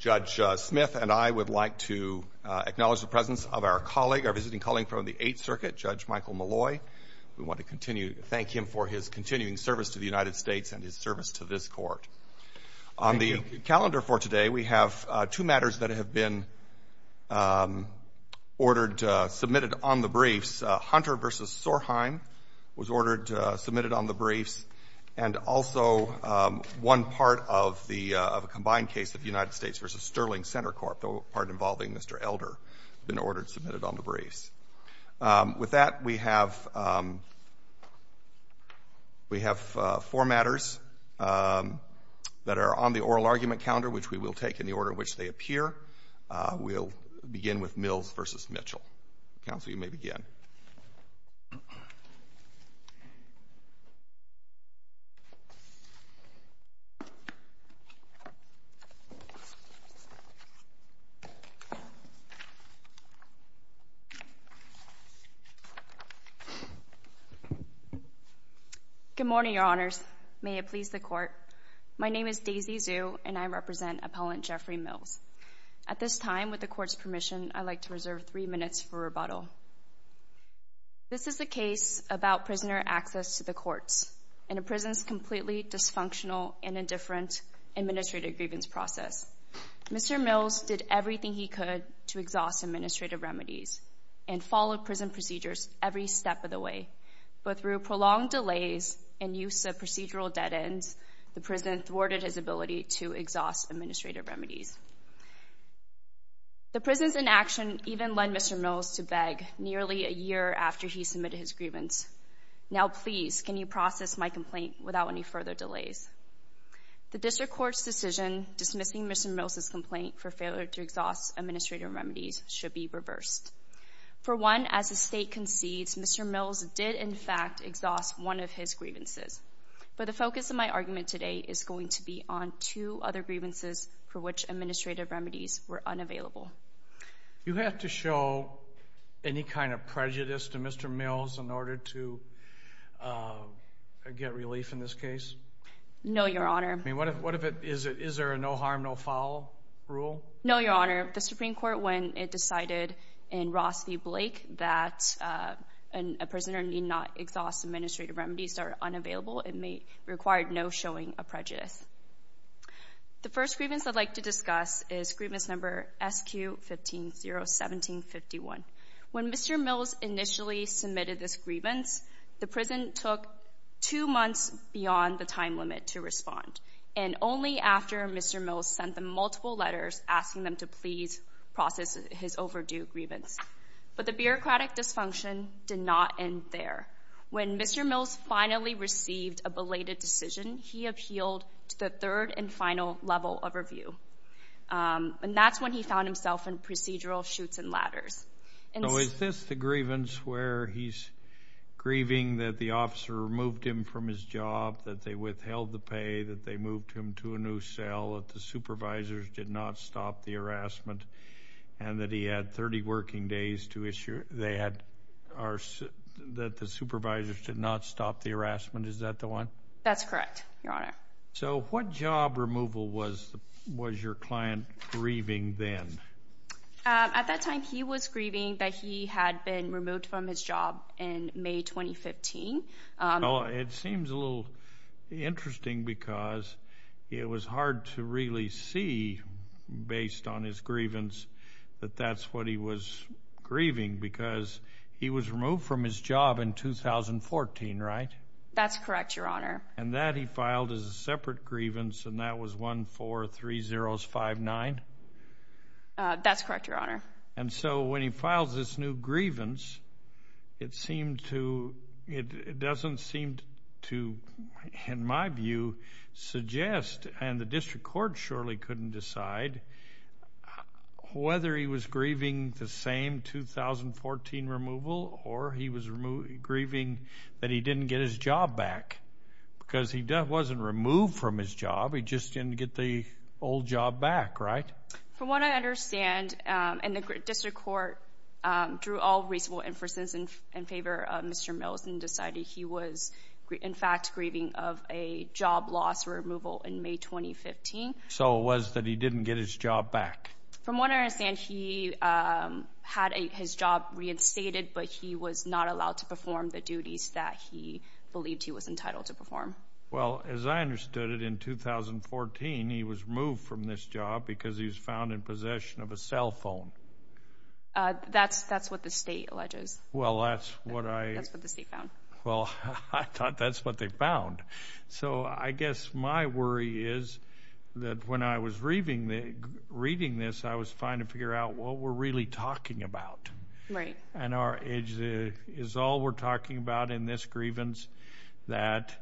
Judge Smith and I would like to acknowledge the presence of our visiting colleague from the Eighth Circuit, Judge Michael Maloy. We want to thank him for his continuing service to the United States and his service to this Court. On the calendar for today, we have two matters that have been submitted on the briefs. Hunter v. Sorheim was submitted on the briefs, and also one part of a combined case of United States v. Sterling Center Corp., the part involving Mr. Elder, has been ordered submitted on the briefs. With that, we have four matters that are on the oral argument calendar, which we will take in the order in which they appear. We'll begin with Mills v. Mitchell. Counsel, you may begin. Good morning, Your Honors. May it please the Court. My name is Daisy Zhu, and I represent Appellant Jeffrey Mills. At this time, with the Court's permission, I'd like to reserve three minutes for rebuttal. This is a case about prisoner access to the courts in a prison's completely dysfunctional and indifferent administrative grievance process. Mr. Mills did everything he could to exhaust administrative remedies and followed prison procedures every step of the way, but through prolonged delays and use of procedural dead ends, the prison thwarted his ability to exhaust administrative remedies. The prison's inaction even led Mr. Mills to beg nearly a year after he submitted his grievance. Now, please, can you process my complaint without any further delays? The District Court's decision dismissing Mr. Mills' complaint for failure to exhaust administrative remedies should be reversed. For one, as the State concedes, Mr. Mills did, in fact, exhaust one of his grievances. But the focus of my argument today is going to be on two other grievances for which administrative remedies were unavailable. You have to show any kind of prejudice to Mr. Mills in order to get relief in this case? No, Your Honor. I mean, what if it is a no harm, no foul rule? No, Your Honor. The Supreme Court, when it decided in Ross v. Blake that a prisoner need not exhaust administrative remedies that are unavailable, it required no showing of prejudice. The first grievance I'd like to discuss is grievance number SQ1501751. When Mr. Mills initially submitted this grievance, the prison took two months beyond the time limit to respond, and only after Mr. Mills sent them multiple letters asking them to please process his overdue grievance. But the bureaucratic dysfunction did not end there. When Mr. Mills finally received a belated decision, he appealed to the third and final level of review, and that's when he found himself in procedural chutes and ladders. So is this the grievance where he's grieving that the officer removed him from his job, that they withheld the pay, that they moved him to a new cell, that the supervisors did not stop the harassment, and that he had 30 working days to issue that the supervisors did not stop the harassment? Is that the one? That's correct, Your Honor. So what job removal was your client grieving then? At that time, he was grieving that he had been removed from his job in May 2015. It seems a little interesting because it was hard to really see, based on his grievance, that that's what he was grieving because he was removed from his job in 2014, right? That's correct, Your Honor. And that he filed as a separate grievance, and that was 143059? That's correct, Your Honor. And so when he files this new grievance, it doesn't seem to, in my view, suggest, and the district court surely couldn't decide whether he was grieving the same 2014 removal or he was grieving that he didn't get his job back because he wasn't removed from his job. He just didn't get the old job back, right? From what I understand, and the district court drew all reasonable inferences in favor of Mr. Mills and decided he was, in fact, grieving of a job loss removal in May 2015. So it was that he didn't get his job back. From what I understand, he had his job reinstated, but he was not allowed to perform the duties that he believed he was entitled to perform. Well, as I understood it, in 2014, he was removed from this job because he was found in possession of a cell phone. That's what the state alleges. Well, that's what I— That's what the state found. Well, I thought that's what they found. So I guess my worry is that when I was reading this, I was trying to figure out what we're really talking about. Right. And is all we're talking about in this grievance that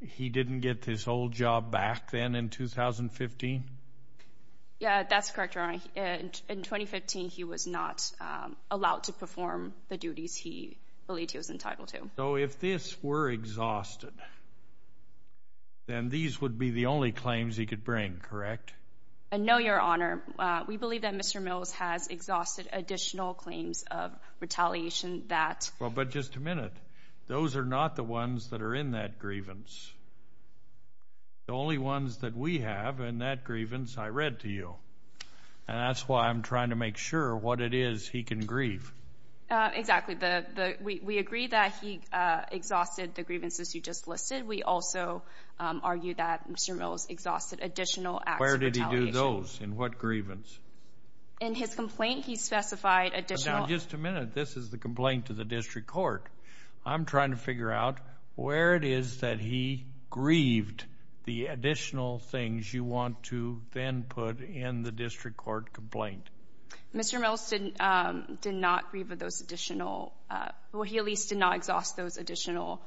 he didn't get his old job back then in 2015? Yeah, that's correct, Your Honor. In 2015, he was not allowed to perform the duties he believed he was entitled to. So if this were exhausted, then these would be the only claims he could bring, correct? No, Your Honor. We believe that Mr. Mills has exhausted additional claims of retaliation that— Well, but just a minute. Those are not the ones that are in that grievance. The only ones that we have in that grievance I read to you, and that's why I'm trying to make sure what it is he can grieve. Exactly. We agree that he exhausted the grievances you just listed. We also argue that Mr. Mills exhausted additional acts of retaliation. Those in what grievance? In his complaint, he specified additional— Now, just a minute. This is the complaint to the district court. I'm trying to figure out where it is that he grieved the additional things you want to then put in the district court complaint. Mr. Mills did not grieve those additional—well, he at least did not exhaust those additional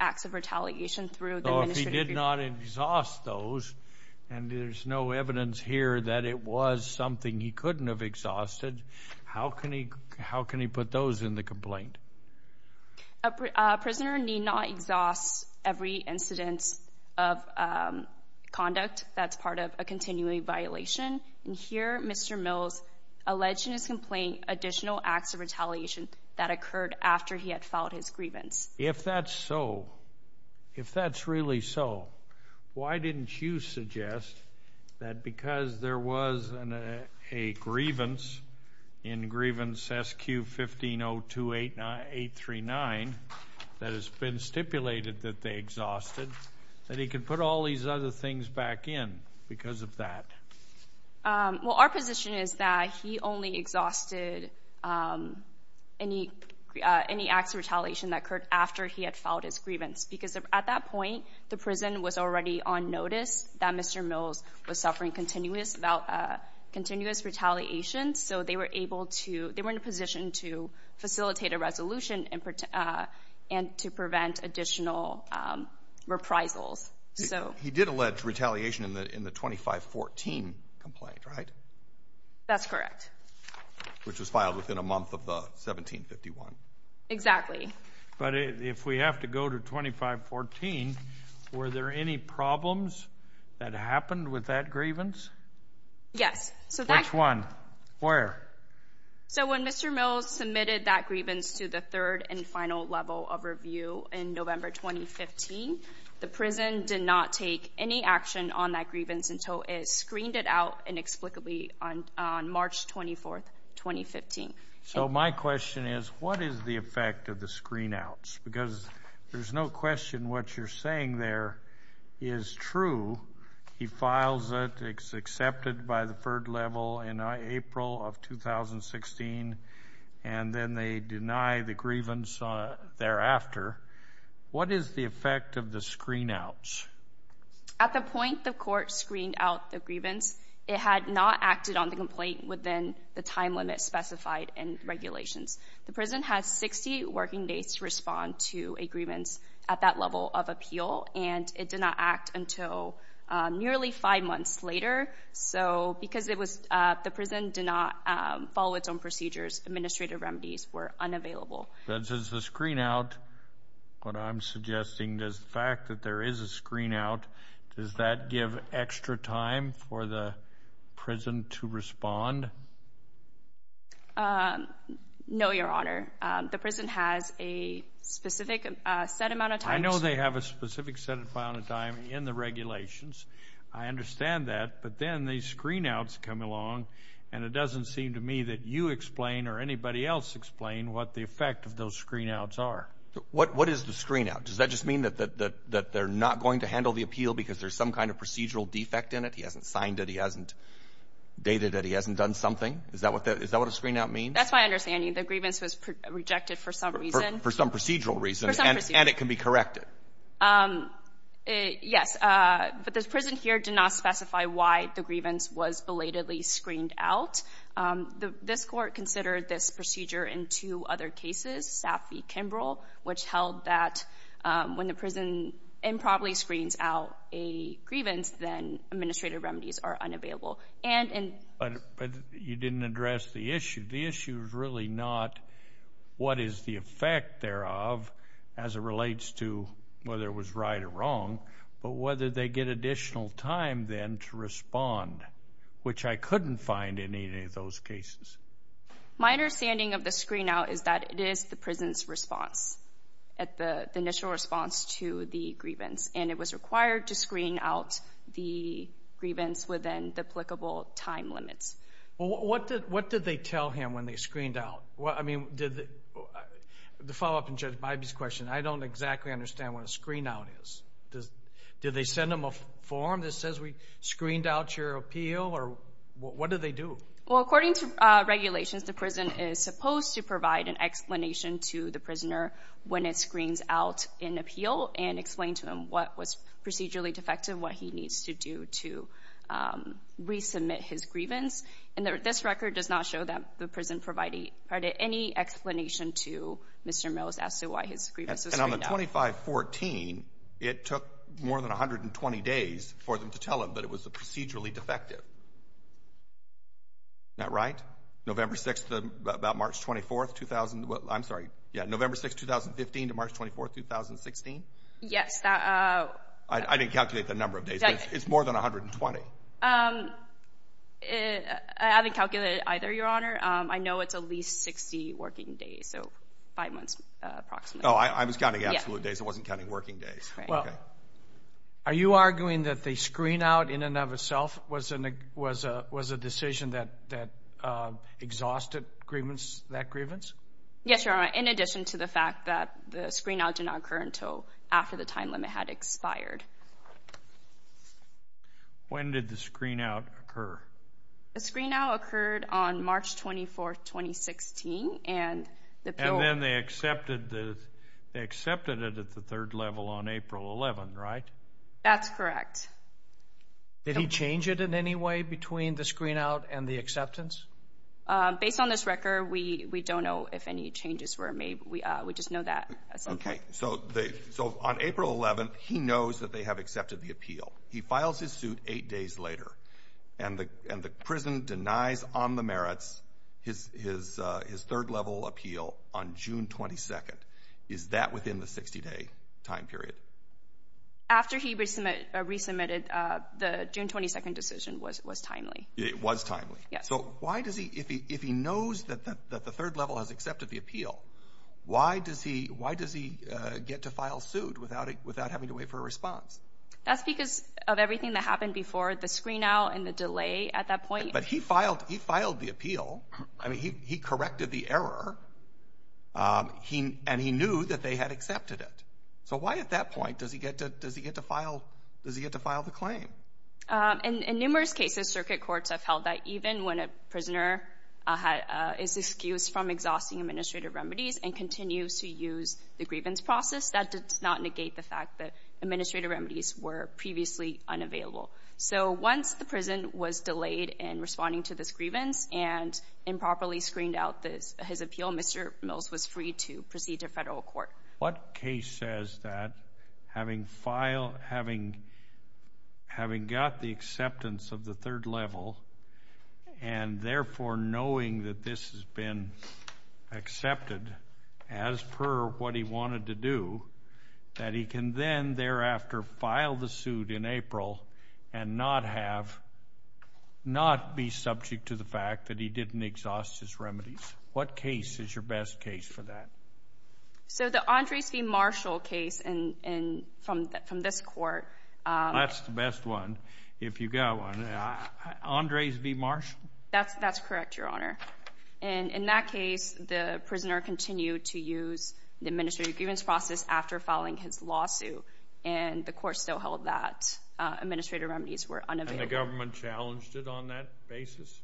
acts of retaliation through the— He did not exhaust those, and there's no evidence here that it was something he couldn't have exhausted. How can he put those in the complaint? A prisoner need not exhaust every incident of conduct that's part of a continuing violation. And here, Mr. Mills alleged in his complaint additional acts of retaliation that occurred after he had filed his grievance. If that's so, if that's really so, why didn't you suggest that because there was a grievance in Grievance SQ 15028839 that has been stipulated that they exhausted, that he could put all these other things back in because of that? Well, our position is that he only exhausted any acts of retaliation that occurred after he had filed his grievance because at that point, the prison was already on notice that Mr. Mills was suffering continuous retaliation, so they were able to—they were in a position to facilitate a resolution and to prevent additional reprisals. He did allege retaliation in the 2514 complaint, right? That's correct. Which was filed within a month of the 1751. Exactly. But if we have to go to 2514, were there any problems that happened with that grievance? Yes. Which one? Where? So when Mr. Mills submitted that grievance to the third and final level of review in November 2015, the prison did not take any action on that grievance until it screened it out inexplicably on March 24, 2015. So my question is, what is the effect of the screen outs? Because there's no question what you're saying there is true. He files it, it's accepted by the third level in April of 2016, and then they deny the grievance thereafter. What is the effect of the screen outs? At the point the court screened out the grievance, it had not acted on the complaint within the time limit specified in regulations. The prison has 60 working days to respond to a grievance at that level of appeal, and it did not act until nearly five months later. So because the prison did not follow its own procedures, administrative remedies were unavailable. This is the screen out. What I'm suggesting is the fact that there is a screen out, does that give extra time for the prison to respond? No, Your Honor. The prison has a specific set amount of time. I know they have a specific set amount of time in the regulations. I understand that, but then these screen outs come along, and it doesn't seem to me that you explain or anybody else explain what the effect of those screen outs are. What is the screen out? Does that just mean that they're not going to handle the appeal because there's some kind of procedural defect in it? He hasn't signed it. He hasn't dated it. He hasn't done something. Is that what a screen out means? That's my understanding. The grievance was rejected for some reason. For some procedural reason. For some procedural reason. And it can be corrected. Yes. But the prison here did not specify why the grievance was belatedly screened out. This court considered this procedure in two other cases, Saffie, Kimbrell, which held that when the prison improperly screens out a grievance, then administrative remedies are unavailable. But you didn't address the issue. The issue is really not what is the effect thereof as it relates to whether it was right or wrong, but whether they get additional time then to respond, which I couldn't find in any of those cases. My understanding of the screen out is that it is the prison's response, the initial response to the grievance, and it was required to screen out the grievance within duplicable time limits. Well, what did they tell him when they screened out? I mean, the follow-up to Judge Bybee's question, I don't exactly understand what a screen out is. Did they send him a form that says we screened out your appeal, or what do they do? Well, according to regulations, the prison is supposed to provide an explanation to the prisoner when it screens out an appeal and explain to him what was procedurally defective, what he needs to do to resubmit his grievance. And this record does not show that the prison provided any explanation to Mr. Mills as to why his grievance was screened out. And on the 2514, it took more than 120 days for them to tell him that it was procedurally defective. Isn't that right? November 6th to about March 24th, 2000? I'm sorry, yeah, November 6th, 2015 to March 24th, 2016? Yes. I didn't calculate the number of days, but it's more than 120. I haven't calculated either, Your Honor. I know it's at least 60 working days, so five months approximately. Oh, I was counting absolute days. I wasn't counting working days. Are you arguing that the screen-out in and of itself was a decision that exhausted that grievance? Yes, Your Honor, in addition to the fact that the screen-out did not occur until after the time limit had expired. When did the screen-out occur? The screen-out occurred on March 24th, 2016. And then they accepted it at the third level on April 11th, right? That's correct. Did he change it in any way between the screen-out and the acceptance? Based on this record, we don't know if any changes were made. We just know that. Okay, so on April 11th, he knows that they have accepted the appeal. He files his suit eight days later, and the prison denies on the merits his third-level appeal on June 22nd. Is that within the 60-day time period? After he resubmitted, the June 22nd decision was timely. It was timely. Yes. So why does he—if he knows that the third level has accepted the appeal, why does he get to file suit without having to wait for a response? That's because of everything that happened before, the screen-out and the delay at that point. But he filed the appeal. I mean, he corrected the error, and he knew that they had accepted it. So why at that point does he get to file the claim? In numerous cases, circuit courts have held that even when a prisoner is excused from exhausting administrative remedies and continues to use the grievance process, that does not negate the fact that administrative remedies were previously unavailable. So once the prison was delayed in responding to this grievance and improperly screened out his appeal, Mr. Mills was free to proceed to federal court. What case says that having got the acceptance of the third level and therefore knowing that this has been accepted as per what he wanted to do, that he can then thereafter file the suit in April and not be subject to the fact that he didn't exhaust his remedies? What case is your best case for that? So the Andres v. Marshall case from this court. That's the best one, if you've got one. Andres v. Marshall? That's correct, Your Honor. In that case, the prisoner continued to use the administrative grievance process after filing his lawsuit, and the court still held that administrative remedies were unavailable. And the government challenged it on that basis?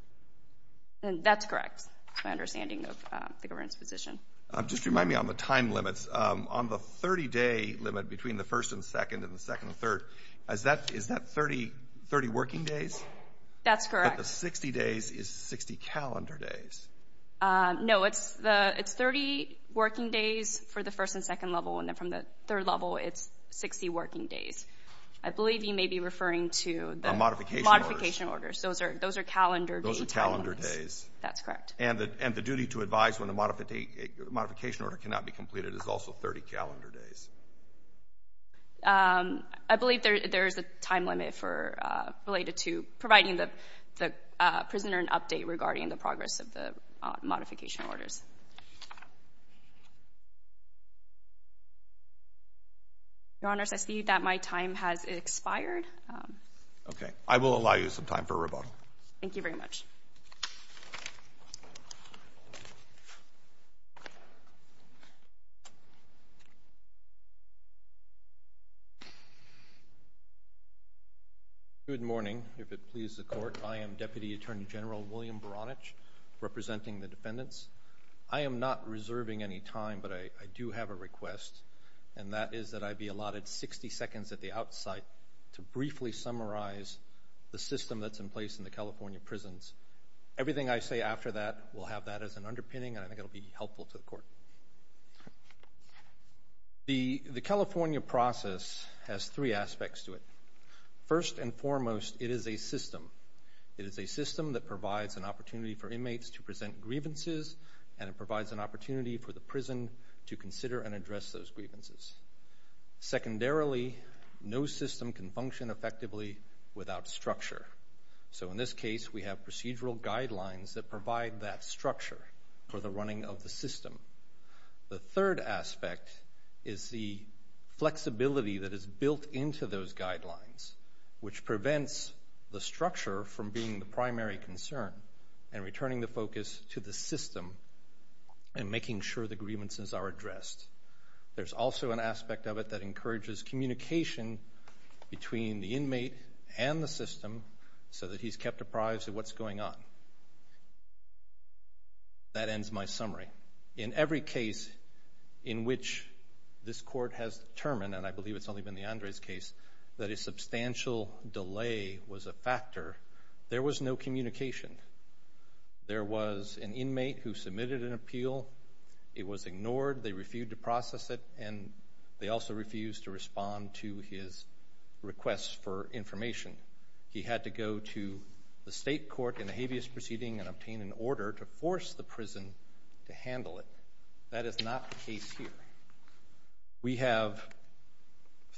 That's correct. That's my understanding of the government's position. Just remind me on the time limits. On the 30-day limit between the first and second and the second and third, is that 30 working days? That's correct. But the 60 days is 60 calendar days. No, it's 30 working days for the first and second level, and then from the third level it's 60 working days. I believe you may be referring to the modification orders. Those are calendar days. Those are calendar days. That's correct. And the duty to advise when the modification order cannot be completed is also 30 calendar days. I believe there is a time limit related to providing the prisoner an update regarding the progress of the modification orders. Your Honors, I see that my time has expired. Okay. I will allow you some time for rebuttal. Thank you very much. Good morning. If it pleases the Court, I am Deputy Attorney General William Baranich representing the defendants. I am not reserving any time, but I do have a request, and that is that I be allotted 60 seconds at the outside to briefly summarize the system that's in place in the California prisons. Everything I say after that will have that as an underpinning, and I think it will be helpful to the Court. The California process has three aspects to it. First and foremost, it is a system. It is a system that provides an opportunity for inmates to present grievances, and it provides an opportunity for the prison to consider and address those grievances. Secondarily, no system can function effectively without structure. So in this case, we have procedural guidelines that provide that structure for the running of the system. The third aspect is the flexibility that is built into those guidelines, which prevents the structure from being the primary concern and returning the focus to the system and making sure the grievances are addressed. There's also an aspect of it that encourages communication between the inmate and the system so that he's kept apprised of what's going on. That ends my summary. In every case in which this Court has determined, and I believe it's only been the Andres case, that a substantial delay was a factor, there was no communication. There was an inmate who submitted an appeal. It was ignored. They refused to process it, and they also refused to respond to his requests for information. He had to go to the state court in a habeas proceeding and obtain an order to force the prison to handle it. That is not the case here. We have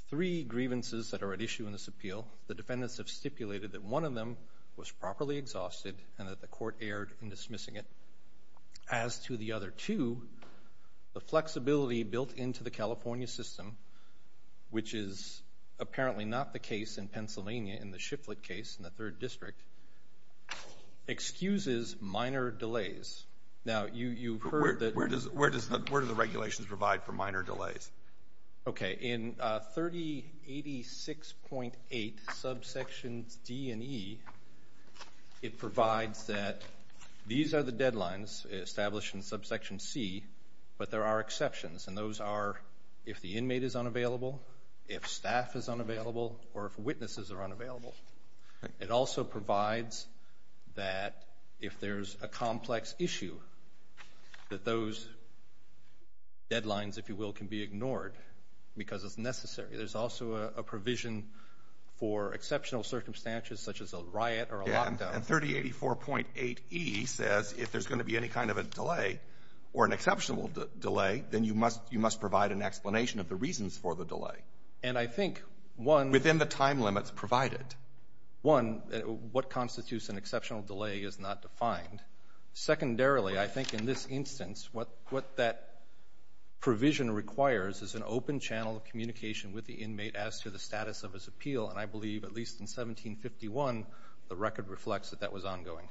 three grievances that are at issue in this appeal. The defendants have stipulated that one of them was properly exhausted and that the court erred in dismissing it. As to the other two, the flexibility built into the California system, which is apparently not the case in Pennsylvania in the Shiflett case in the 3rd District, excuses minor delays. Now, you've heard that Where do the regulations provide for minor delays? Okay. In 3086.8, subsections D and E, it provides that these are the deadlines established in subsection C, but there are exceptions, and those are if the inmate is unavailable, if staff is unavailable, or if witnesses are unavailable. It also provides that if there's a complex issue, that those deadlines, if you will, can be ignored because it's necessary. There's also a provision for exceptional circumstances such as a riot or a lockdown. And 3084.8E says if there's going to be any kind of a delay or an exceptional delay, then you must provide an explanation of the reasons for the delay. And I think one Within the time limits provided. One, what constitutes an exceptional delay is not defined. Secondarily, I think in this instance, what that provision requires is an open channel of communication with the inmate as to the status of his appeal, and I believe at least in 1751, the record reflects that that was ongoing.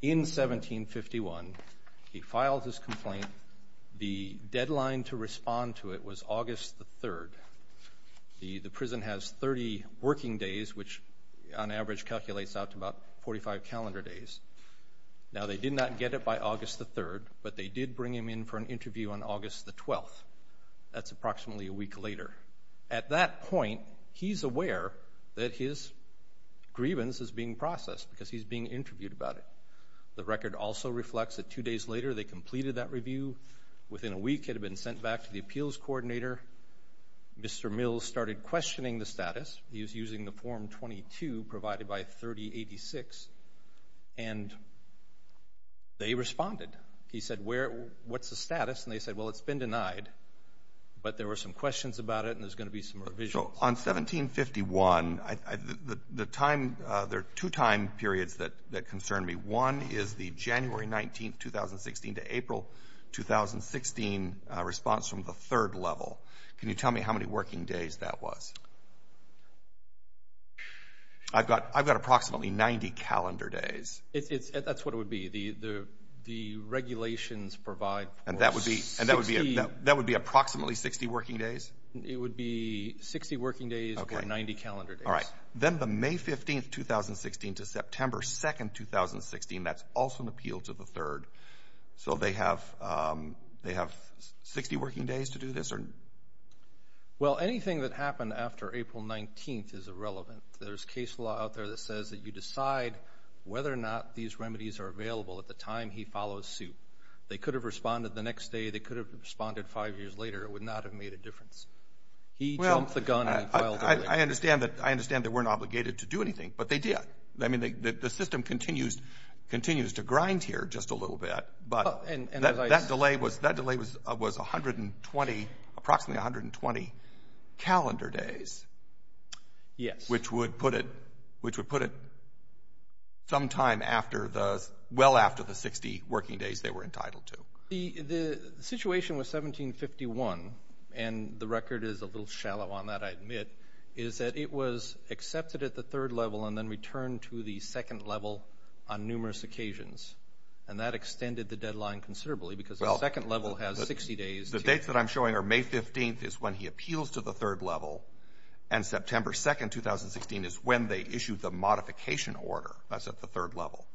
In 1751, he filed his complaint. The deadline to respond to it was August the 3rd. The prison has 30 working days, which on average calculates out to about 45 calendar days. Now, they did not get it by August the 3rd, but they did bring him in for an interview on August the 12th. That's approximately a week later. At that point, he's aware that his grievance is being processed because he's being interviewed about it. The record also reflects that two days later, they completed that review. Within a week, he had been sent back to the appeals coordinator. Mr. Mills started questioning the status. He was using the Form 22 provided by 3086, and they responded. He said, what's the status? And they said, well, it's been denied, but there were some questions about it, and there's going to be some revisions. So on 1751, there are two time periods that concern me. One is the January 19, 2016, to April 2016 response from the third level. Can you tell me how many working days that was? I've got approximately 90 calendar days. That's what it would be. The regulations provide for 60. And that would be approximately 60 working days? It would be 60 working days or 90 calendar days. All right. Then the May 15, 2016, to September 2, 2016, that's also an appeal to the third. So they have 60 working days to do this? Well, anything that happened after April 19 is irrelevant. There's case law out there that says that you decide whether or not these remedies are available at the time he follows suit. They could have responded the next day. They could have responded five years later. It would not have made a difference. Well, I understand that they weren't obligated to do anything, but they did. I mean, the system continues to grind here just a little bit, but that delay was approximately 120 calendar days. Yes. Which would put it sometime well after the 60 working days they were entitled to. The situation with 1751, and the record is a little shallow on that, I admit, is that it was accepted at the third level and then returned to the second level on numerous occasions. And that extended the deadline considerably because the second level has 60 days. The dates that I'm showing are May 15 is when he appeals to the third level, and September 2, 2016 is when they issued the modification order. That's at the third level.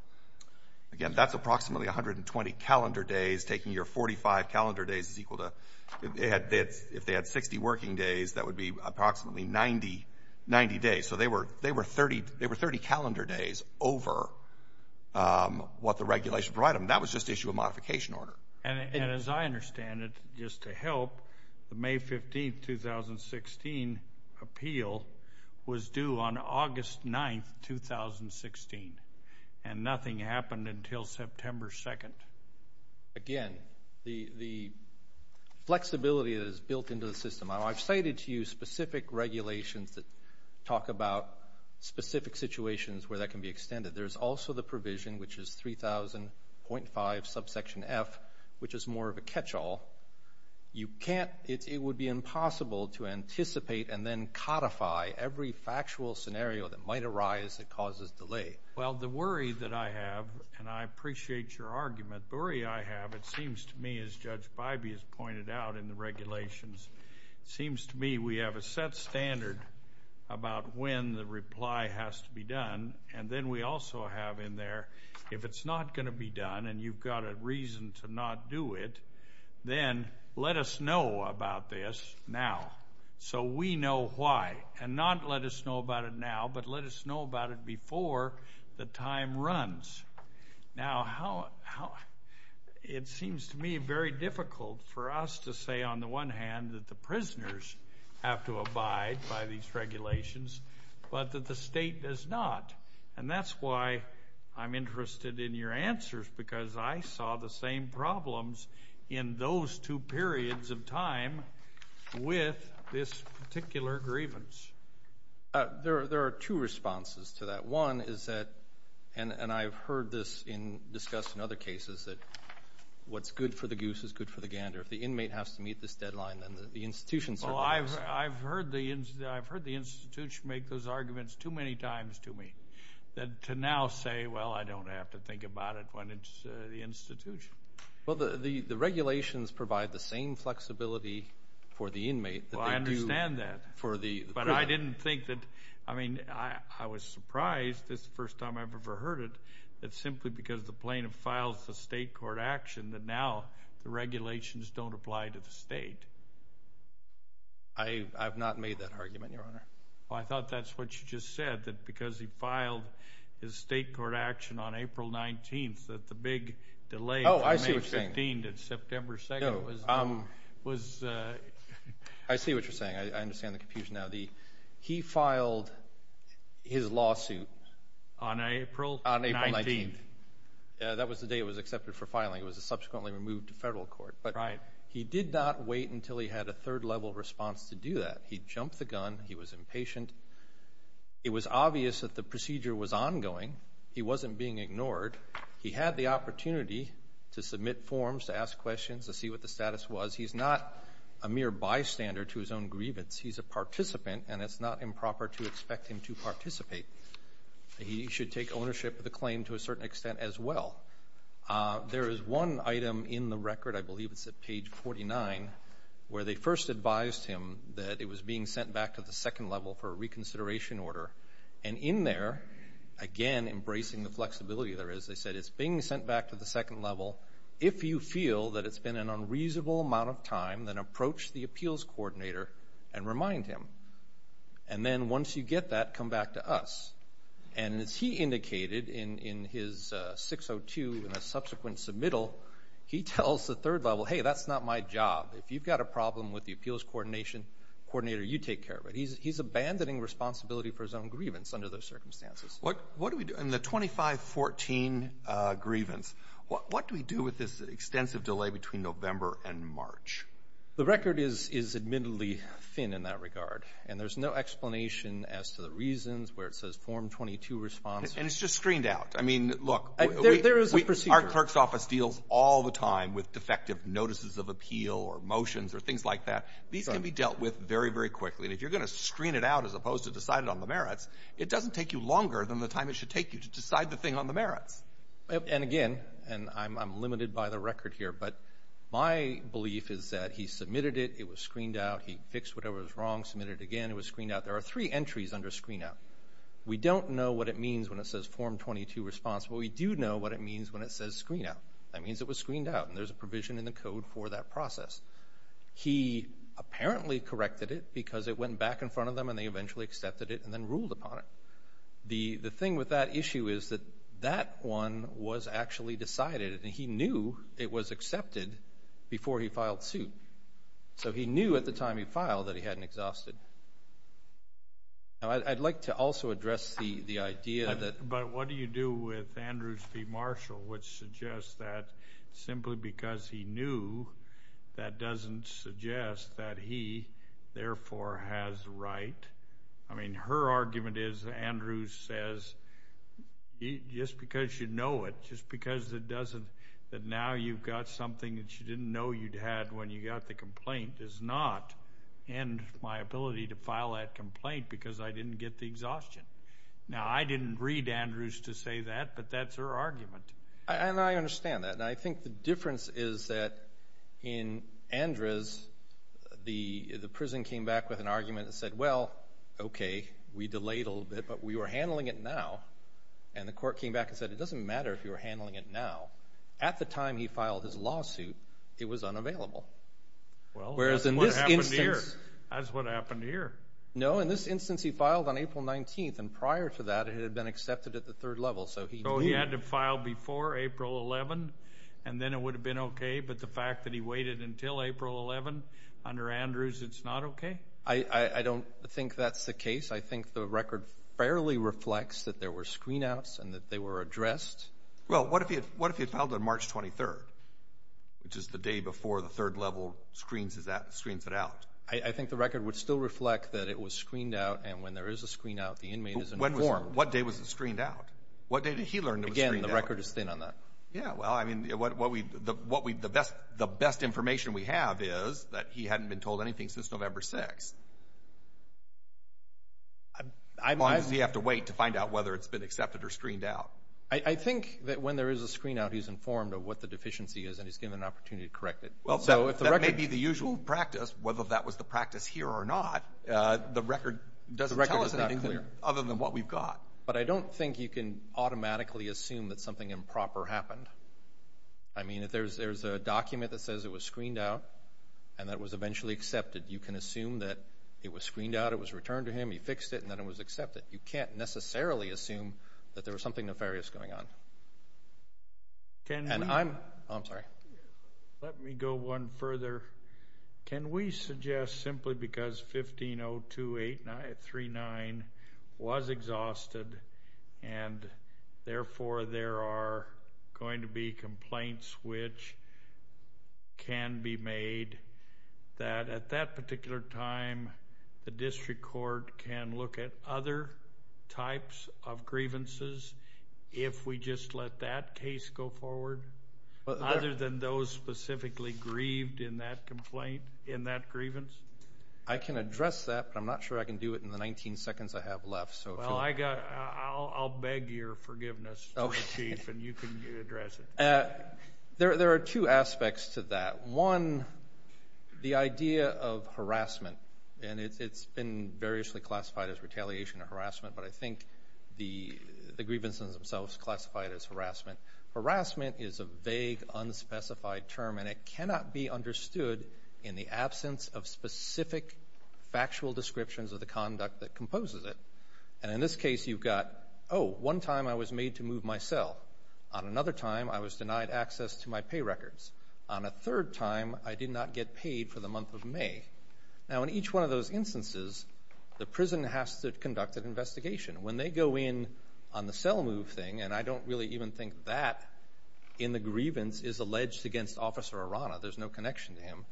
Again, that's approximately 120 calendar days. Taking your 45 calendar days is equal to, if they had 60 working days, that would be approximately 90 days. So they were 30 calendar days over what the regulation provided them. That was just issued a modification order. And as I understand it, just to help, the May 15, 2016 appeal was due on August 9, 2016, and nothing happened until September 2. Again, the flexibility that is built into the system. I've cited to you specific regulations that talk about specific situations where that can be extended. There's also the provision, which is 3000.5 subsection F, which is more of a catch-all. every factual scenario that might arise that causes delay. Well, the worry that I have, and I appreciate your argument, the worry I have, it seems to me, as Judge Bybee has pointed out in the regulations, it seems to me we have a set standard about when the reply has to be done. And then we also have in there, if it's not going to be done and you've got a reason to not do it, then let us know about this now. So we know why. And not let us know about it now, but let us know about it before the time runs. Now, it seems to me very difficult for us to say, on the one hand, that the prisoners have to abide by these regulations, but that the state does not. And that's why I'm interested in your answers, because I saw the same problems in those two periods of time with this particular grievance. There are two responses to that. One is that, and I've heard this discussed in other cases, that what's good for the goose is good for the gander. If the inmate has to meet this deadline, then the institution certainly has to. Oh, I've heard the institution make those arguments too many times to me to now say, well, I don't have to think about it when it's the institution. Well, the regulations provide the same flexibility for the inmate. Well, I understand that. But I didn't think that – I mean, I was surprised, this is the first time I've ever heard it, that simply because the plaintiff files a state court action, that now the regulations don't apply to the state. I have not made that argument, Your Honor. Well, I thought that's what you just said, that because he filed his state court action on April 19th, that the big delay from May 15th to September 2nd was – I see what you're saying. I understand the confusion now. He filed his lawsuit on April 19th. That was the day it was accepted for filing. It was subsequently removed to federal court. But he did not wait until he had a third-level response to do that. He jumped the gun. He was impatient. It was obvious that the procedure was ongoing. He wasn't being ignored. He had the opportunity to submit forms, to ask questions, to see what the status was. He's not a mere bystander to his own grievance. He's a participant, and it's not improper to expect him to participate. He should take ownership of the claim to a certain extent as well. There is one item in the record, I believe it's at page 49, where they first advised him that it was being sent back to the second level for a reconsideration order. And in there, again embracing the flexibility there is, they said, it's being sent back to the second level. If you feel that it's been an unreasonable amount of time, then approach the appeals coordinator and remind him. And then once you get that, come back to us. And as he indicated in his 602 in a subsequent submittal, he tells the third level, hey, that's not my job. If you've got a problem with the appeals coordinator, you take care of it. He's abandoning responsibility for his own grievance under those circumstances. And the 2514 grievance, what do we do with this extensive delay between November and March? The record is admittedly thin in that regard, and there's no explanation as to the reasons where it says Form 22 responds. And it's just screened out. I mean, look. There is a procedure. Our clerk's office deals all the time with defective notices of appeal or motions or things like that. These can be dealt with very, very quickly. And if you're going to screen it out as opposed to decide it on the merits, it doesn't take you longer than the time it should take you to decide the thing on the merits. And again, and I'm limited by the record here, but my belief is that he submitted it, it was screened out, he fixed whatever was wrong, submitted it again, it was screened out. There are three entries under screen out. We don't know what it means when it says Form 22 responds. But we do know what it means when it says screen out. That means it was screened out, and there's a provision in the code for that process. He apparently corrected it because it went back in front of them and they eventually accepted it and then ruled upon it. The thing with that issue is that that one was actually decided, and he knew it was accepted before he filed suit. So he knew at the time he filed that he hadn't exhausted. Now, I'd like to also address the idea that – but what do you do with Andrews v. Marshall, which suggests that simply because he knew, that doesn't suggest that he, therefore, has the right. I mean, her argument is that Andrews says just because you know it, just because it doesn't, that now you've got something that you didn't know you'd had when you got the complaint does not end my ability to file that complaint because I didn't get the exhaustion. Now, I didn't read Andrews to say that, but that's her argument. And I understand that, and I think the difference is that in Andrews, the prison came back with an argument that said, well, okay, we delayed a little bit, but we were handling it now, and the court came back and said, it doesn't matter if you were handling it now. At the time he filed his lawsuit, it was unavailable. Well, that's what happened here. No, in this instance he filed on April 19th, and prior to that it had been accepted at the third level. So he had to file before April 11th, and then it would have been okay, but the fact that he waited until April 11th under Andrews, it's not okay? I don't think that's the case. I think the record fairly reflects that there were screen outs and that they were addressed. Well, what if he had filed on March 23rd, which is the day before the third level screens it out? I think the record would still reflect that it was screened out, and when there is a screen out, the inmate is informed. What day was it screened out? What day did he learn it was screened out? Again, the record is thin on that. Yeah, well, I mean, the best information we have is that he hadn't been told anything since November 6th. How long does he have to wait to find out whether it's been accepted or screened out? I think that when there is a screen out, he's informed of what the deficiency is and he's given an opportunity to correct it. Well, that may be the usual practice. Whether that was the practice here or not, the record doesn't tell us anything other than what we've got. But I don't think you can automatically assume that something improper happened. I mean, if there's a document that says it was screened out and that it was eventually accepted, you can assume that it was screened out, it was returned to him, he fixed it, and then it was accepted. You can't necessarily assume that there was something nefarious going on. I'm sorry. Let me go one further. Can we suggest simply because 1502839 was exhausted and therefore there are going to be complaints which can be made, that at that particular time the district court can look at other types of grievances if we just let that case go forward other than those specifically grieved in that complaint, in that grievance? I can address that, but I'm not sure I can do it in the 19 seconds I have left. Well, I'll beg your forgiveness, Chief, and you can address it. There are two aspects to that. One, the idea of harassment, and it's been variously classified as retaliation or harassment, but I think the grievances themselves classified as harassment. Harassment is a vague, unspecified term, and it cannot be understood in the absence of specific factual descriptions of the conduct that composes it. And in this case you've got, oh, one time I was made to move my cell. On another time I was denied access to my pay records. On a third time I did not get paid for the month of May. Now, in each one of those instances the prison has to conduct an investigation. When they go in on the cell move thing, and I don't really even think that in the grievance is alleged against Officer Arana. There's no connection to him.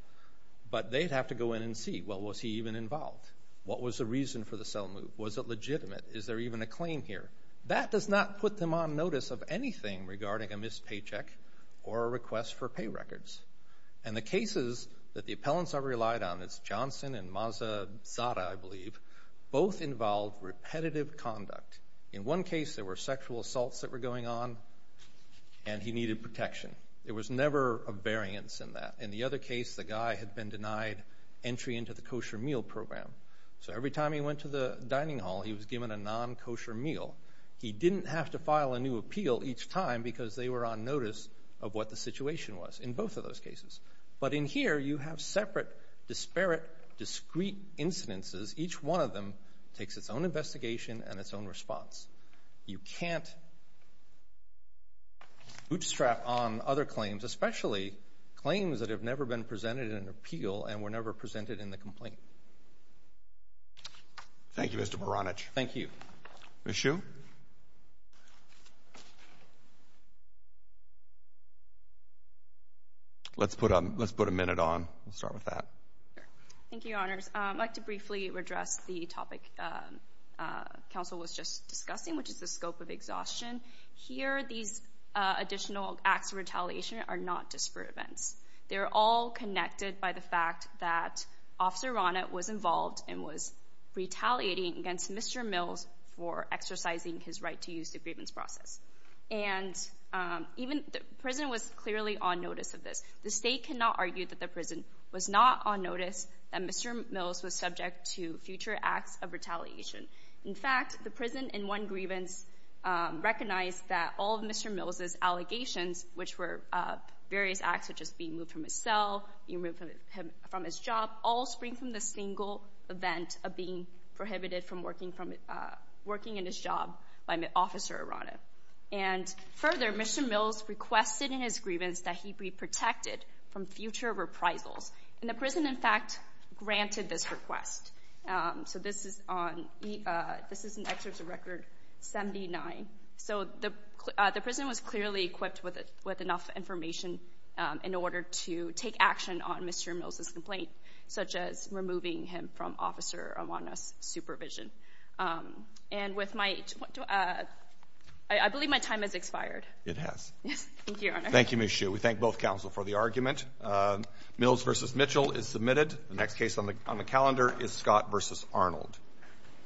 But they'd have to go in and see, well, was he even involved? What was the reason for the cell move? Was it legitimate? Is there even a claim here? That does not put them on notice of anything regarding a missed paycheck or a request for pay records. And the cases that the appellants are relied on, it's Johnson and Mazzotta, I believe, both involved repetitive conduct. In one case there were sexual assaults that were going on, and he needed protection. There was never a variance in that. In the other case the guy had been denied entry into the kosher meal program. So every time he went to the dining hall he was given a non-kosher meal. He didn't have to file a new appeal each time because they were on notice of what the situation was in both of those cases. But in here you have separate, disparate, discrete incidences. Each one of them takes its own investigation and its own response. You can't bootstrap on other claims, especially claims that have never been presented in an appeal and were never presented in the complaint. Thank you, Mr. Baranich. Thank you. Ms. Hsu. Let's put a minute on. We'll start with that. Thank you, Your Honors. I'd like to briefly address the topic counsel was just discussing, which is the scope of exhaustion. Here these additional acts of retaliation are not disparate events. They're all connected by the fact that Officer Ronnett was involved and was retaliating against Mr. Mills for exercising his right to use the grievance process. The prison was clearly on notice of this. The state cannot argue that the prison was not on notice that Mr. Mills was subject to future acts of retaliation. In fact, the prison in one grievance recognized that all of Mr. Mills' allegations, which were various acts such as being moved from his cell, being removed from his job, all spring from the single event of being prohibited from working in his job by Officer Ronnett. Further, Mr. Mills requested in his grievance that he be protected from future reprisals. The prison, in fact, granted this request. This is an excerpt of Record 79. So the prison was clearly equipped with enough information in order to take action on Mr. Mills' complaint, such as removing him from Officer Ronnett's supervision. And with my—I believe my time has expired. It has. Thank you, Your Honor. Thank you, Ms. Hsu. We thank both counsel for the argument. Mills v. Mitchell is submitted. The next case on the calendar is Scott v. Arnold. Thank you.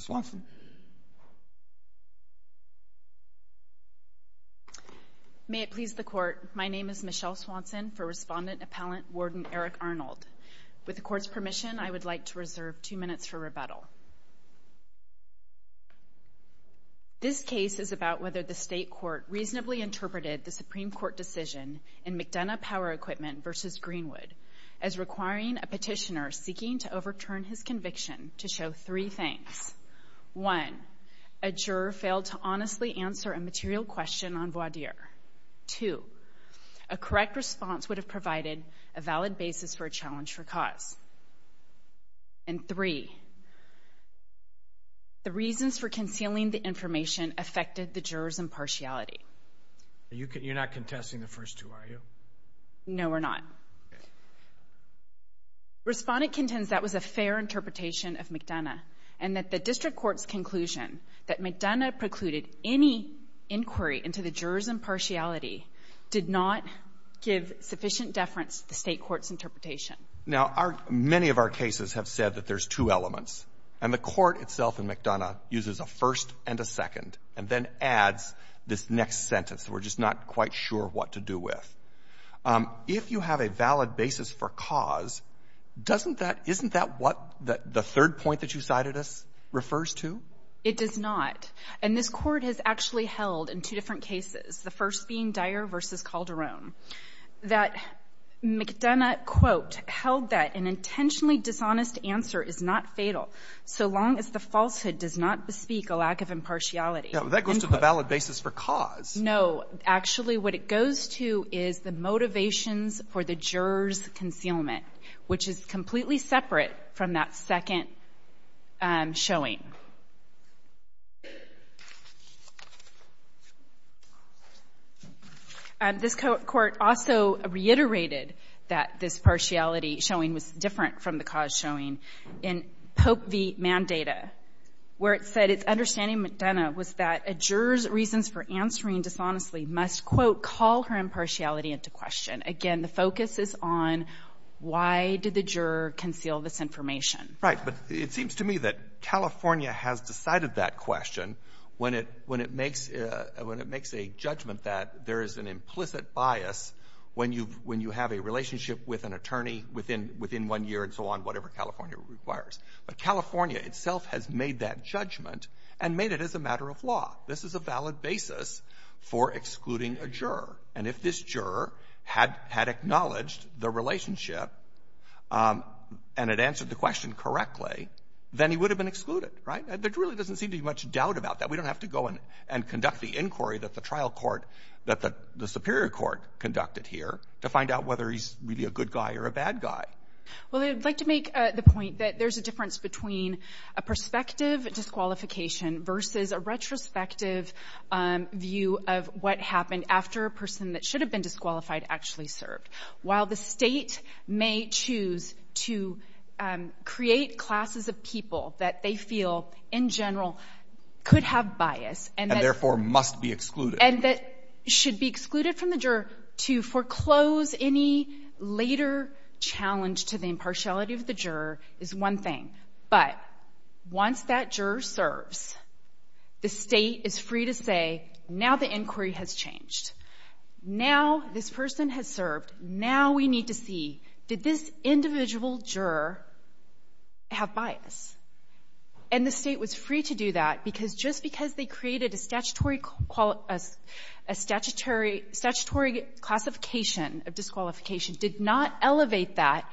Ms. Swanson. May it please the Court, my name is Michelle Swanson, for Respondent Appellant Warden Eric Arnold. With the Court's permission, I would like to reserve two minutes for rebuttal. This case is about whether the State Court reasonably interpreted the Supreme Court decision in McDonough Power Equipment v. Greenwood as requiring a petitioner seeking to overturn his conviction to show three things. One, a juror failed to honestly answer a material question on voir dire. Two, a correct response would have provided a valid basis for a challenge for cause. And three, the reasons for concealing the information affected the juror's impartiality. You're not contesting the first two, are you? No, we're not. Respondent contends that was a fair interpretation of McDonough and that the District Court's conclusion that McDonough precluded any inquiry into the juror's impartiality Now, our — many of our cases have said that there's two elements. And the Court itself in McDonough uses a first and a second and then adds this next sentence. We're just not quite sure what to do with. If you have a valid basis for cause, doesn't that — isn't that what the third point that you cited us refers to? It does not. And this Court has actually held in two different cases, the first being Dyer v. Calderon, that McDonough, quote, held that an intentionally dishonest answer is not fatal so long as the falsehood does not bespeak a lack of impartiality. That goes to the valid basis for cause. No. Actually, what it goes to is the motivations for the juror's concealment, which is completely separate from that second showing. This Court also reiterated that this partiality showing was different from the cause showing in Pope v. Mandata, where it said its understanding, McDonough, was that a juror's reasons for answering dishonestly must, quote, call her impartiality into question. Again, the focus is on why did the juror conceal this information. Right. But it seems to me that California has decided that question when it makes a judgment that there is an implicit bias when you have a relationship with an attorney within one year and so on, whatever California requires. But California itself has made that judgment and made it as a matter of law. This is a valid basis for excluding a juror. And if this juror had acknowledged the relationship and had answered the question correctly, then he would have been excluded. Right? There really doesn't seem to be much doubt about that. We don't have to go and conduct the inquiry that the trial court, that the superior court conducted here to find out whether he's really a good guy or a bad guy. Well, I'd like to make the point that there's a difference between a prospective disqualification versus a retrospective view of what happened after a person that the State may choose to create classes of people that they feel, in general, could have bias and that — And therefore must be excluded. And that should be excluded from the juror. To foreclose any later challenge to the impartiality of the juror is one thing. But once that juror serves, the State is free to say, now the inquiry has changed. Now this person has served. Now we need to see, did this individual juror have bias? And the State was free to do that because just because they created a statutory — a statutory — statutory classification of disqualification did not elevate that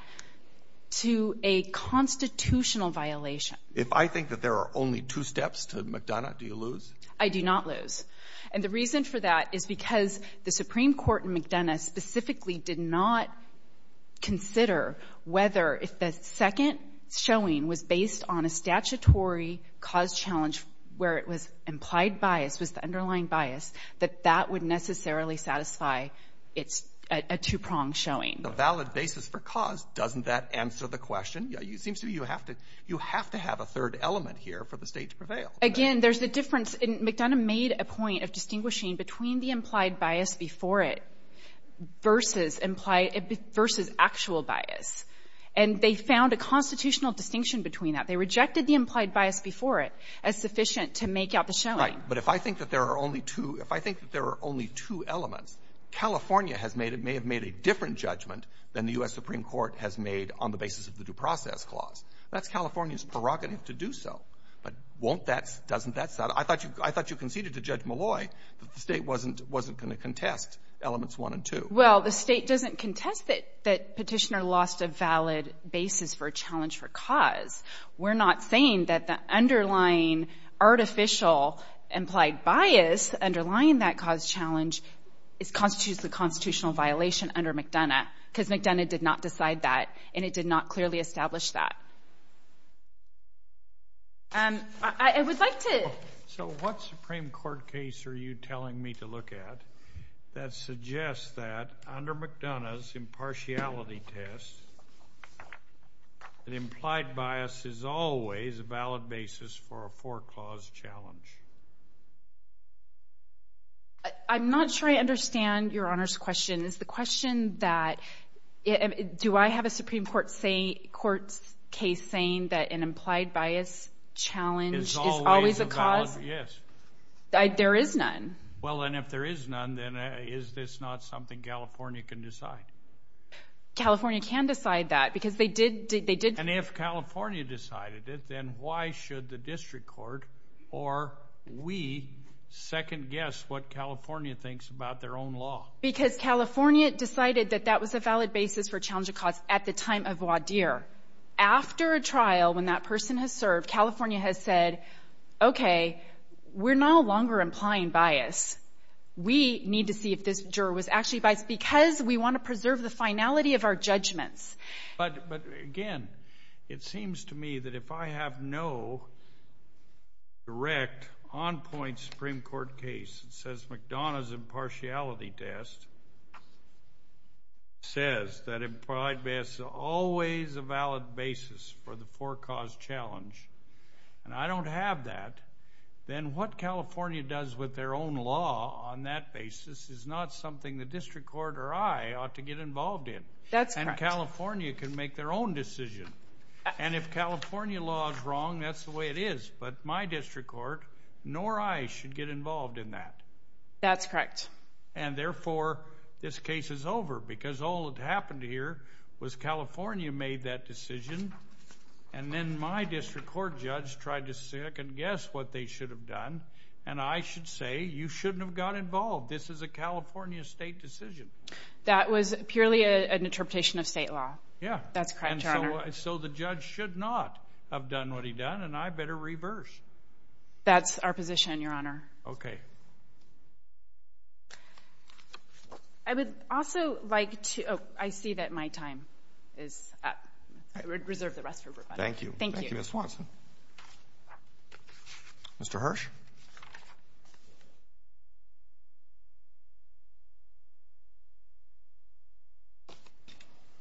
to a constitutional violation. If I think that there are only two steps to McDonough, do you lose? I do not lose. And the reason for that is because the Supreme Court in McDonough specifically did not consider whether if the second showing was based on a statutory cause challenge where it was implied bias was the underlying bias, that that would necessarily satisfy its — a two-pronged showing. The valid basis for cause, doesn't that answer the question? It seems to me you have to — you have to have a third element here for the State to prevail. Again, there's a difference. McDonough made a point of distinguishing between the implied bias before it versus implied — versus actual bias. And they found a constitutional distinction between that. They rejected the implied bias before it as sufficient to make out the showing. Right. But if I think that there are only two — if I think that there are only two elements, California has made — it may have made a different judgment than the U.S. Supreme Court has made on the basis of the Due Process Clause. That's California's prerogative to do so. But won't that — doesn't that — I thought you — I thought you conceded to Judge Malloy that the State wasn't — wasn't going to contest elements one and two. Well, the State doesn't contest that Petitioner lost a valid basis for a challenge for cause. We're not saying that the underlying artificial implied bias underlying that cause challenge constitutes the constitutional violation under McDonough, because McDonough did not decide that, and it did not clearly establish that. I would like to — So what Supreme Court case are you telling me to look at that suggests that under McDonough's impartiality test, an implied bias is always a valid basis for a for- cause challenge? I'm not sure I understand Your Honor's question. Is the question that — do I have a Supreme Court case saying that an implied bias challenge is always a cause? Is always a valid — yes. There is none. Well, and if there is none, then is this not something California can decide? California can decide that, because they did — And if California decided it, then why should the District Court or we second-guess what California thinks about their own law? Because California decided that that was a valid basis for a challenge of cause at the time of Wadeer. After a trial, when that person has served, California has said, okay, we're no longer implying bias. We need to see if this juror was actually biased, because we want to preserve the finality of our judgments. But again, it seems to me that if I have no direct, on-point Supreme Court case that says McDonough's impartiality test says that implied bias is always a valid basis for the for-cause challenge, and I don't have that, then what California does with their own law on that basis is not something the District Court or I ought to get involved in. That's correct. And California can make their own decision. And if California law is wrong, that's the way it is. But my District Court nor I should get involved in that. That's correct. And therefore, this case is over, because all that happened here was California made that decision, and then my District Court judge tried to second-guess what they should have done, and I should say, you shouldn't have got involved. This is a California state decision. That was purely an interpretation of state law. Yeah. That's correct, Your Honor. So the judge should not have done what he done, and I better reverse. That's our position, Your Honor. Okay. I would also like to – oh, I see that my time is up. Reserve the rest for everybody. Thank you. Thank you. Thank you, Ms. Swanson. Mr. Hirsch.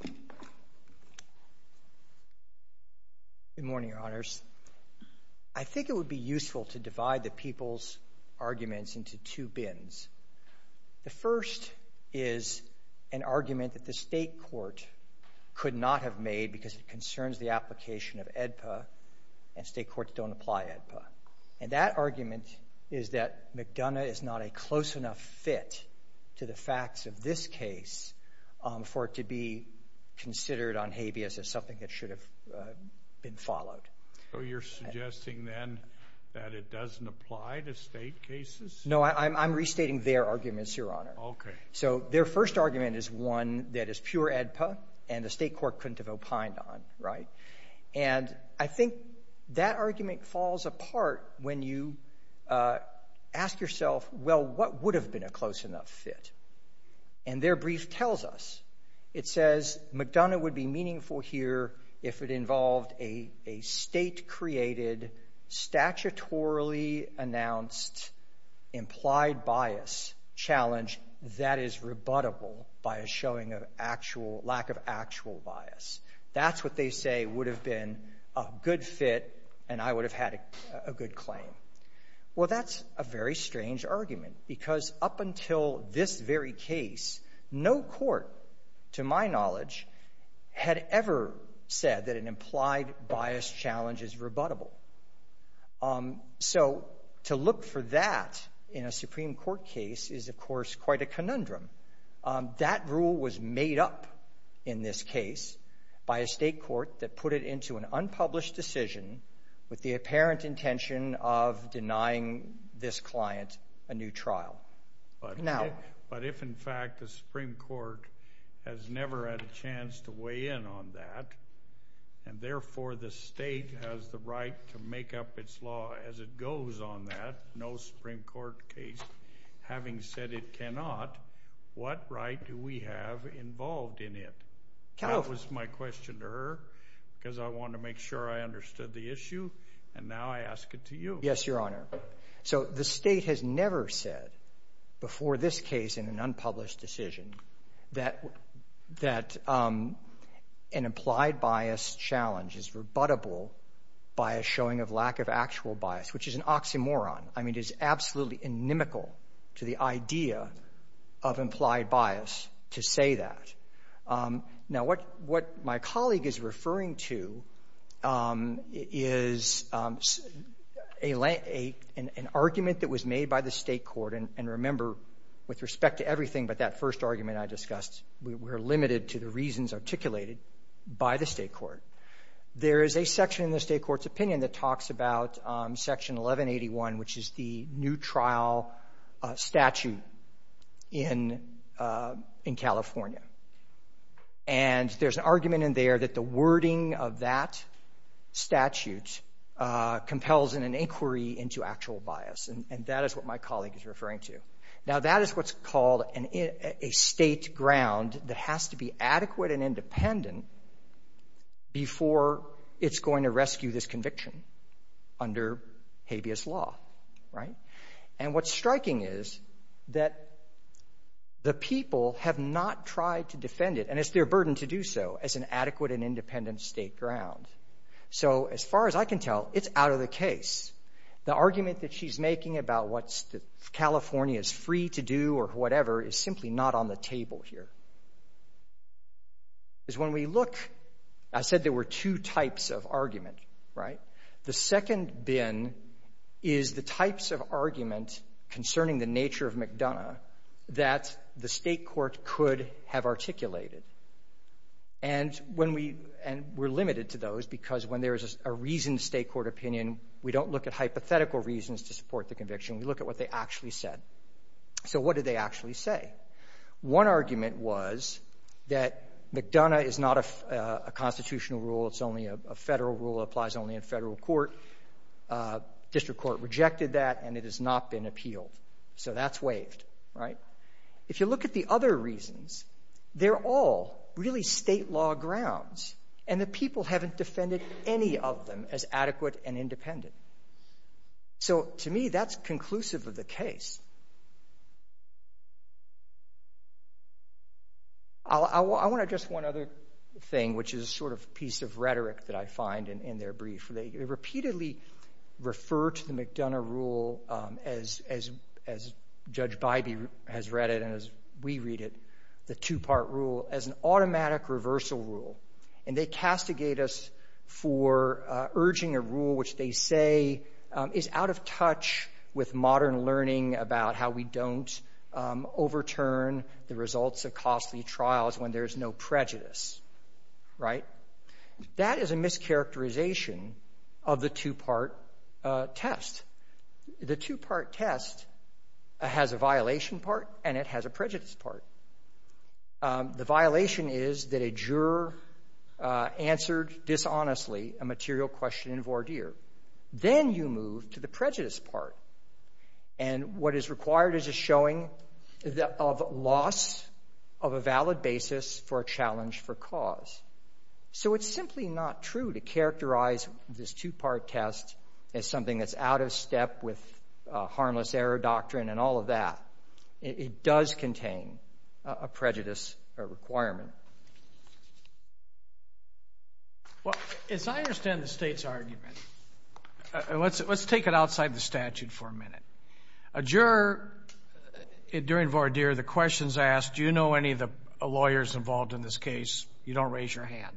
Good morning, Your Honors. I think it would be useful to divide the people's arguments into two bins. The first is an argument that the state court could not have made because it and state courts don't apply AEDPA. And that argument is that McDonough is not a close enough fit to the facts of this case for it to be considered on habeas as something that should have been followed. So you're suggesting, then, that it doesn't apply to state cases? No, I'm restating their arguments, Your Honor. Okay. So their first argument is one that is pure AEDPA and the state court couldn't have opined on, right? And I think that argument falls apart when you ask yourself, well, what would have been a close enough fit? And their brief tells us. It says McDonough would be meaningful here if it involved a state-created, statutorily announced implied bias challenge that is rebuttable by a showing of lack of actual bias. That's what they say would have been a good fit and I would have had a good claim. Well, that's a very strange argument because up until this very case, no court, to my knowledge, had ever said that an implied bias challenge is rebuttable. So to look for that in a Supreme Court case is, of course, quite a conundrum. That rule was made up in this case by a state court that put it into an unpublished decision with the apparent intention of denying this client a new But if, in fact, the Supreme Court has never had a chance to weigh in on that and, therefore, the state has the right to make up its law as it goes on that, no Supreme Court case having said it cannot, what right do we have involved in it? That was my question to her because I wanted to make sure I understood the issue and now I ask it to you. Yes, Your Honor. So the state has never said before this case in an unpublished decision that an implied bias challenge is rebuttable by a showing of lack of actual bias, which is an oxymoron. I mean, it is absolutely inimical to the idea of implied bias to say that. Now, what my colleague is referring to is an argument that was made by the state court. And remember, with respect to everything but that first argument I discussed, we're limited to the reasons articulated by the state court. There is a section in the state court's opinion that talks about Section 1181, which is the new trial statute in California. And there's an argument in there that the wording of that statute compels an inquiry into actual bias. And that is what my colleague is referring to. Now, that is what's called a state ground that has to be adequate and independent before it's going to rescue this conviction under habeas law, right? And what's striking is that the people have not tried to defend it, and it's their burden to do so, as an adequate and independent state ground. So as far as I can tell, it's out of the case. The argument that she's making about what California is free to do or whatever is simply not on the table here. Because when we look, I said there were two types of argument, right? The second bin is the types of argument concerning the nature of McDonough that the state court could have articulated. And we're limited to those because when there is a reasoned state court opinion, we don't look at hypothetical reasons to support the conviction. We look at what they actually said. So what did they actually say? One argument was that McDonough is not a constitutional rule. It's only a federal rule. It applies only in federal court. District court rejected that, and it has not been appealed. So that's waived, right? If you look at the other reasons, they're all really state law grounds, and the So to me, that's conclusive of the case. I want to address one other thing, which is a sort of piece of rhetoric that I find in their brief. They repeatedly refer to the McDonough rule, as Judge Bybee has read it and as we read it, the two-part rule, as an automatic reversal rule. And they castigate us for urging a rule which they say is out of touch with modern learning about how we don't overturn the results of costly trials when there's no prejudice, right? That is a mischaracterization of the two-part test. The two-part test has a violation part, and it has a prejudice part. The violation is that a juror answered dishonestly a material question in voir dire. Then you move to the prejudice part, and what is required is a showing of loss of a valid basis for a challenge for cause. So it's simply not true to characterize this two-part test as something that's out of step with harmless error doctrine and all of that. It does contain a prejudice requirement. Well, as I understand the State's argument, let's take it outside the statute for a minute. A juror during voir dire, the question is asked, do you know any of the lawyers involved in this case? You don't raise your hand.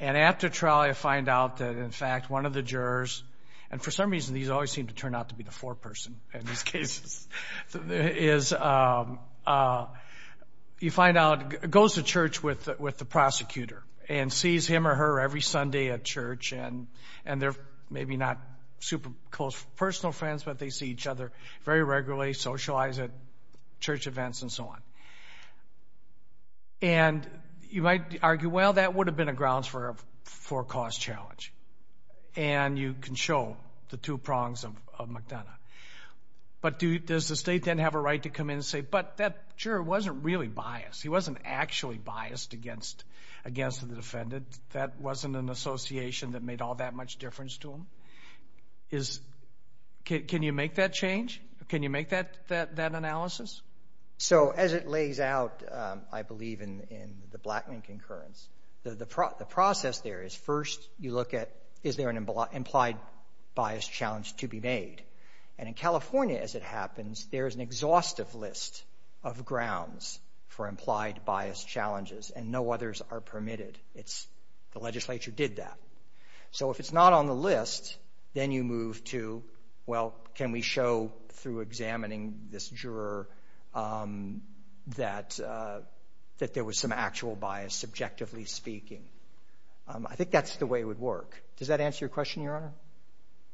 And after trial, you find out that, in fact, one of the jurors, and for some reason these always seem to turn out to be the foreperson in these cases, is you find out, goes to church with the prosecutor and sees him or her every Sunday at church, and they're maybe not super close personal friends, but they see each other very regularly, socialize at church events and so on. And you might argue, well, that would have been a grounds for a cause challenge, and you can show the two prongs of McDonough. But does the State then have a right to come in and say, but that juror wasn't really biased. He wasn't actually biased against the defendant. That wasn't an association that made all that much difference to him. Can you make that change? Can you make that analysis? So as it lays out, I believe, in the Blackman concurrence, the process there is first you look at, is there an implied bias challenge to be made? And in California, as it happens, there is an exhaustive list of grounds for implied bias challenges, and no others are permitted. The legislature did that. So if it's not on the list, then you move to, well, can we show through examining this juror that there was some actual bias, subjectively speaking? I think that's the way it would work. Does that answer your question, Your Honor?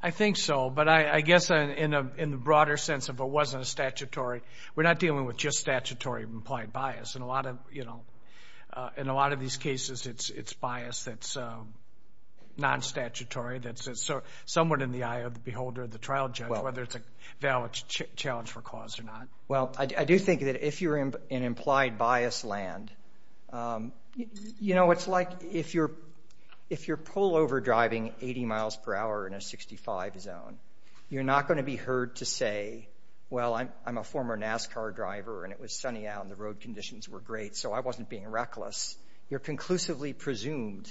I think so. But I guess in the broader sense, if it wasn't statutory, we're not dealing with just statutory implied bias. In a lot of these cases, it's bias that's non-statutory, that's somewhat in the eye of the beholder, the trial judge, whether it's a valid challenge for cause or not. Well, I do think that if you're in implied bias land, you know, it's like if you're pullover driving 80 miles per hour in a 65 zone, you're not going to be heard to say, well, I'm a former NASCAR driver and it was sunny out and the road conditions were great, so I wasn't being reckless. You're conclusively presumed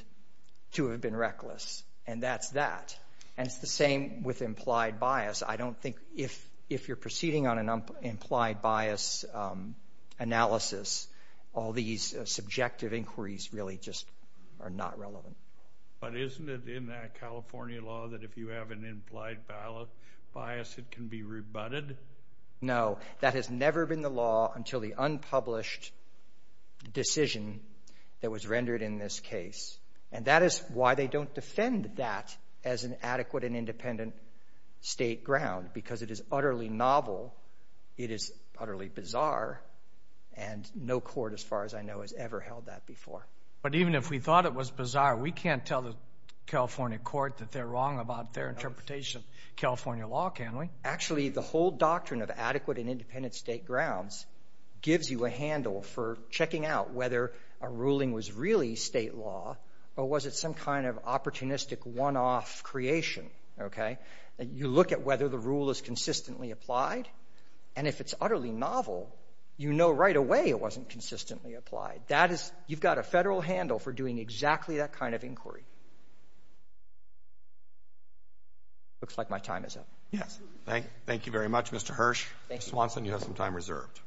to have been reckless, and that's that. And it's the same with implied bias. I don't think if you're proceeding on an implied bias analysis, all these subjective inquiries really just are not relevant. But isn't it in that California law that if you have an implied bias, it can be rebutted? No, that has never been the law until the unpublished decision that was rendered in this case. And that is why they don't defend that as an adequate and independent state ground, because it is utterly novel, it is utterly bizarre, and no court, as far as I know, has ever held that before. But even if we thought it was bizarre, we can't tell the California court that they're wrong about their interpretation of California law, can we? Actually, the whole doctrine of adequate and independent state grounds gives you a handle for checking out whether a ruling was really state law or was it some kind of opportunistic one-off creation, okay? You look at whether the rule is consistently applied, and if it's utterly novel, you know right away it wasn't consistently applied. That is you've got a Federal handle for doing exactly that kind of inquiry. Looks like my time is up. Yes. Thank you very much, Mr. Hirsch. Ms. Swanson, you have some time reserved.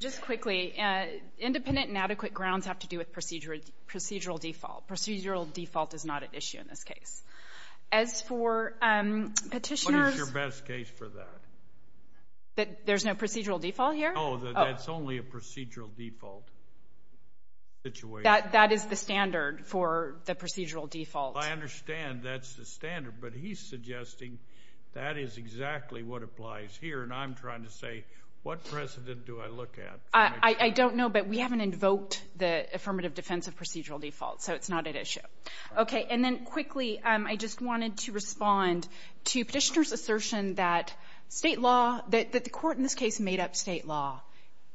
Just quickly, independent and adequate grounds have to do with procedural default. Procedural default is not at issue in this case. As for petitioners... What is your best case for that? There's no procedural default here? No, that's only a procedural default situation. I understand that's the standard, but he's suggesting that is exactly what applies here, and I'm trying to say what precedent do I look at? I don't know, but we haven't invoked the affirmative defense of procedural default, so it's not at issue. Okay, and then quickly, I just wanted to respond to petitioners' assertion that the court in this case made up state law.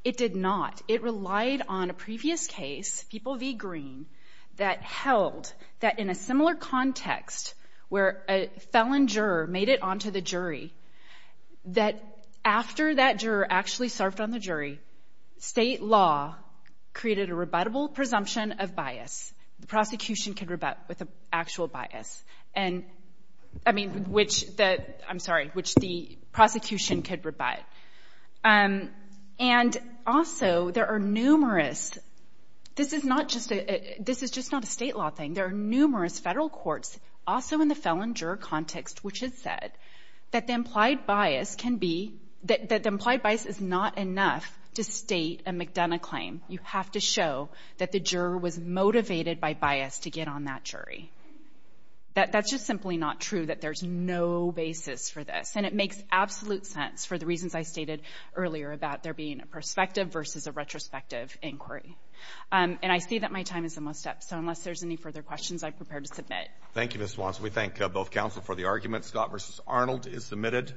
It did not. It relied on a previous case, People v. Green, that held that in a similar context where a felon juror made it onto the jury that after that juror actually served on the jury, state law created a rebuttable presumption of bias. The prosecution could rebut with an actual bias. And, I mean, which the... I'm sorry, which the prosecution could rebut. And also, there are numerous... This is not just a... This is just not a state law thing. There are numerous federal courts, also in the felon juror context, which has said that the implied bias can be... That the implied bias is not enough to state a McDonough claim. You have to show that the juror was motivated by bias to get on that jury. That's just simply not true, that there's no basis for this, and it makes absolute sense for the reasons I stated earlier about there being a prospective versus a retrospective inquiry. And I see that my time is almost up, so unless there's any further questions, I'm prepared to submit. Thank you, Ms. Swanson. We thank both counsel for the argument. Scott v. Arnold is submitted.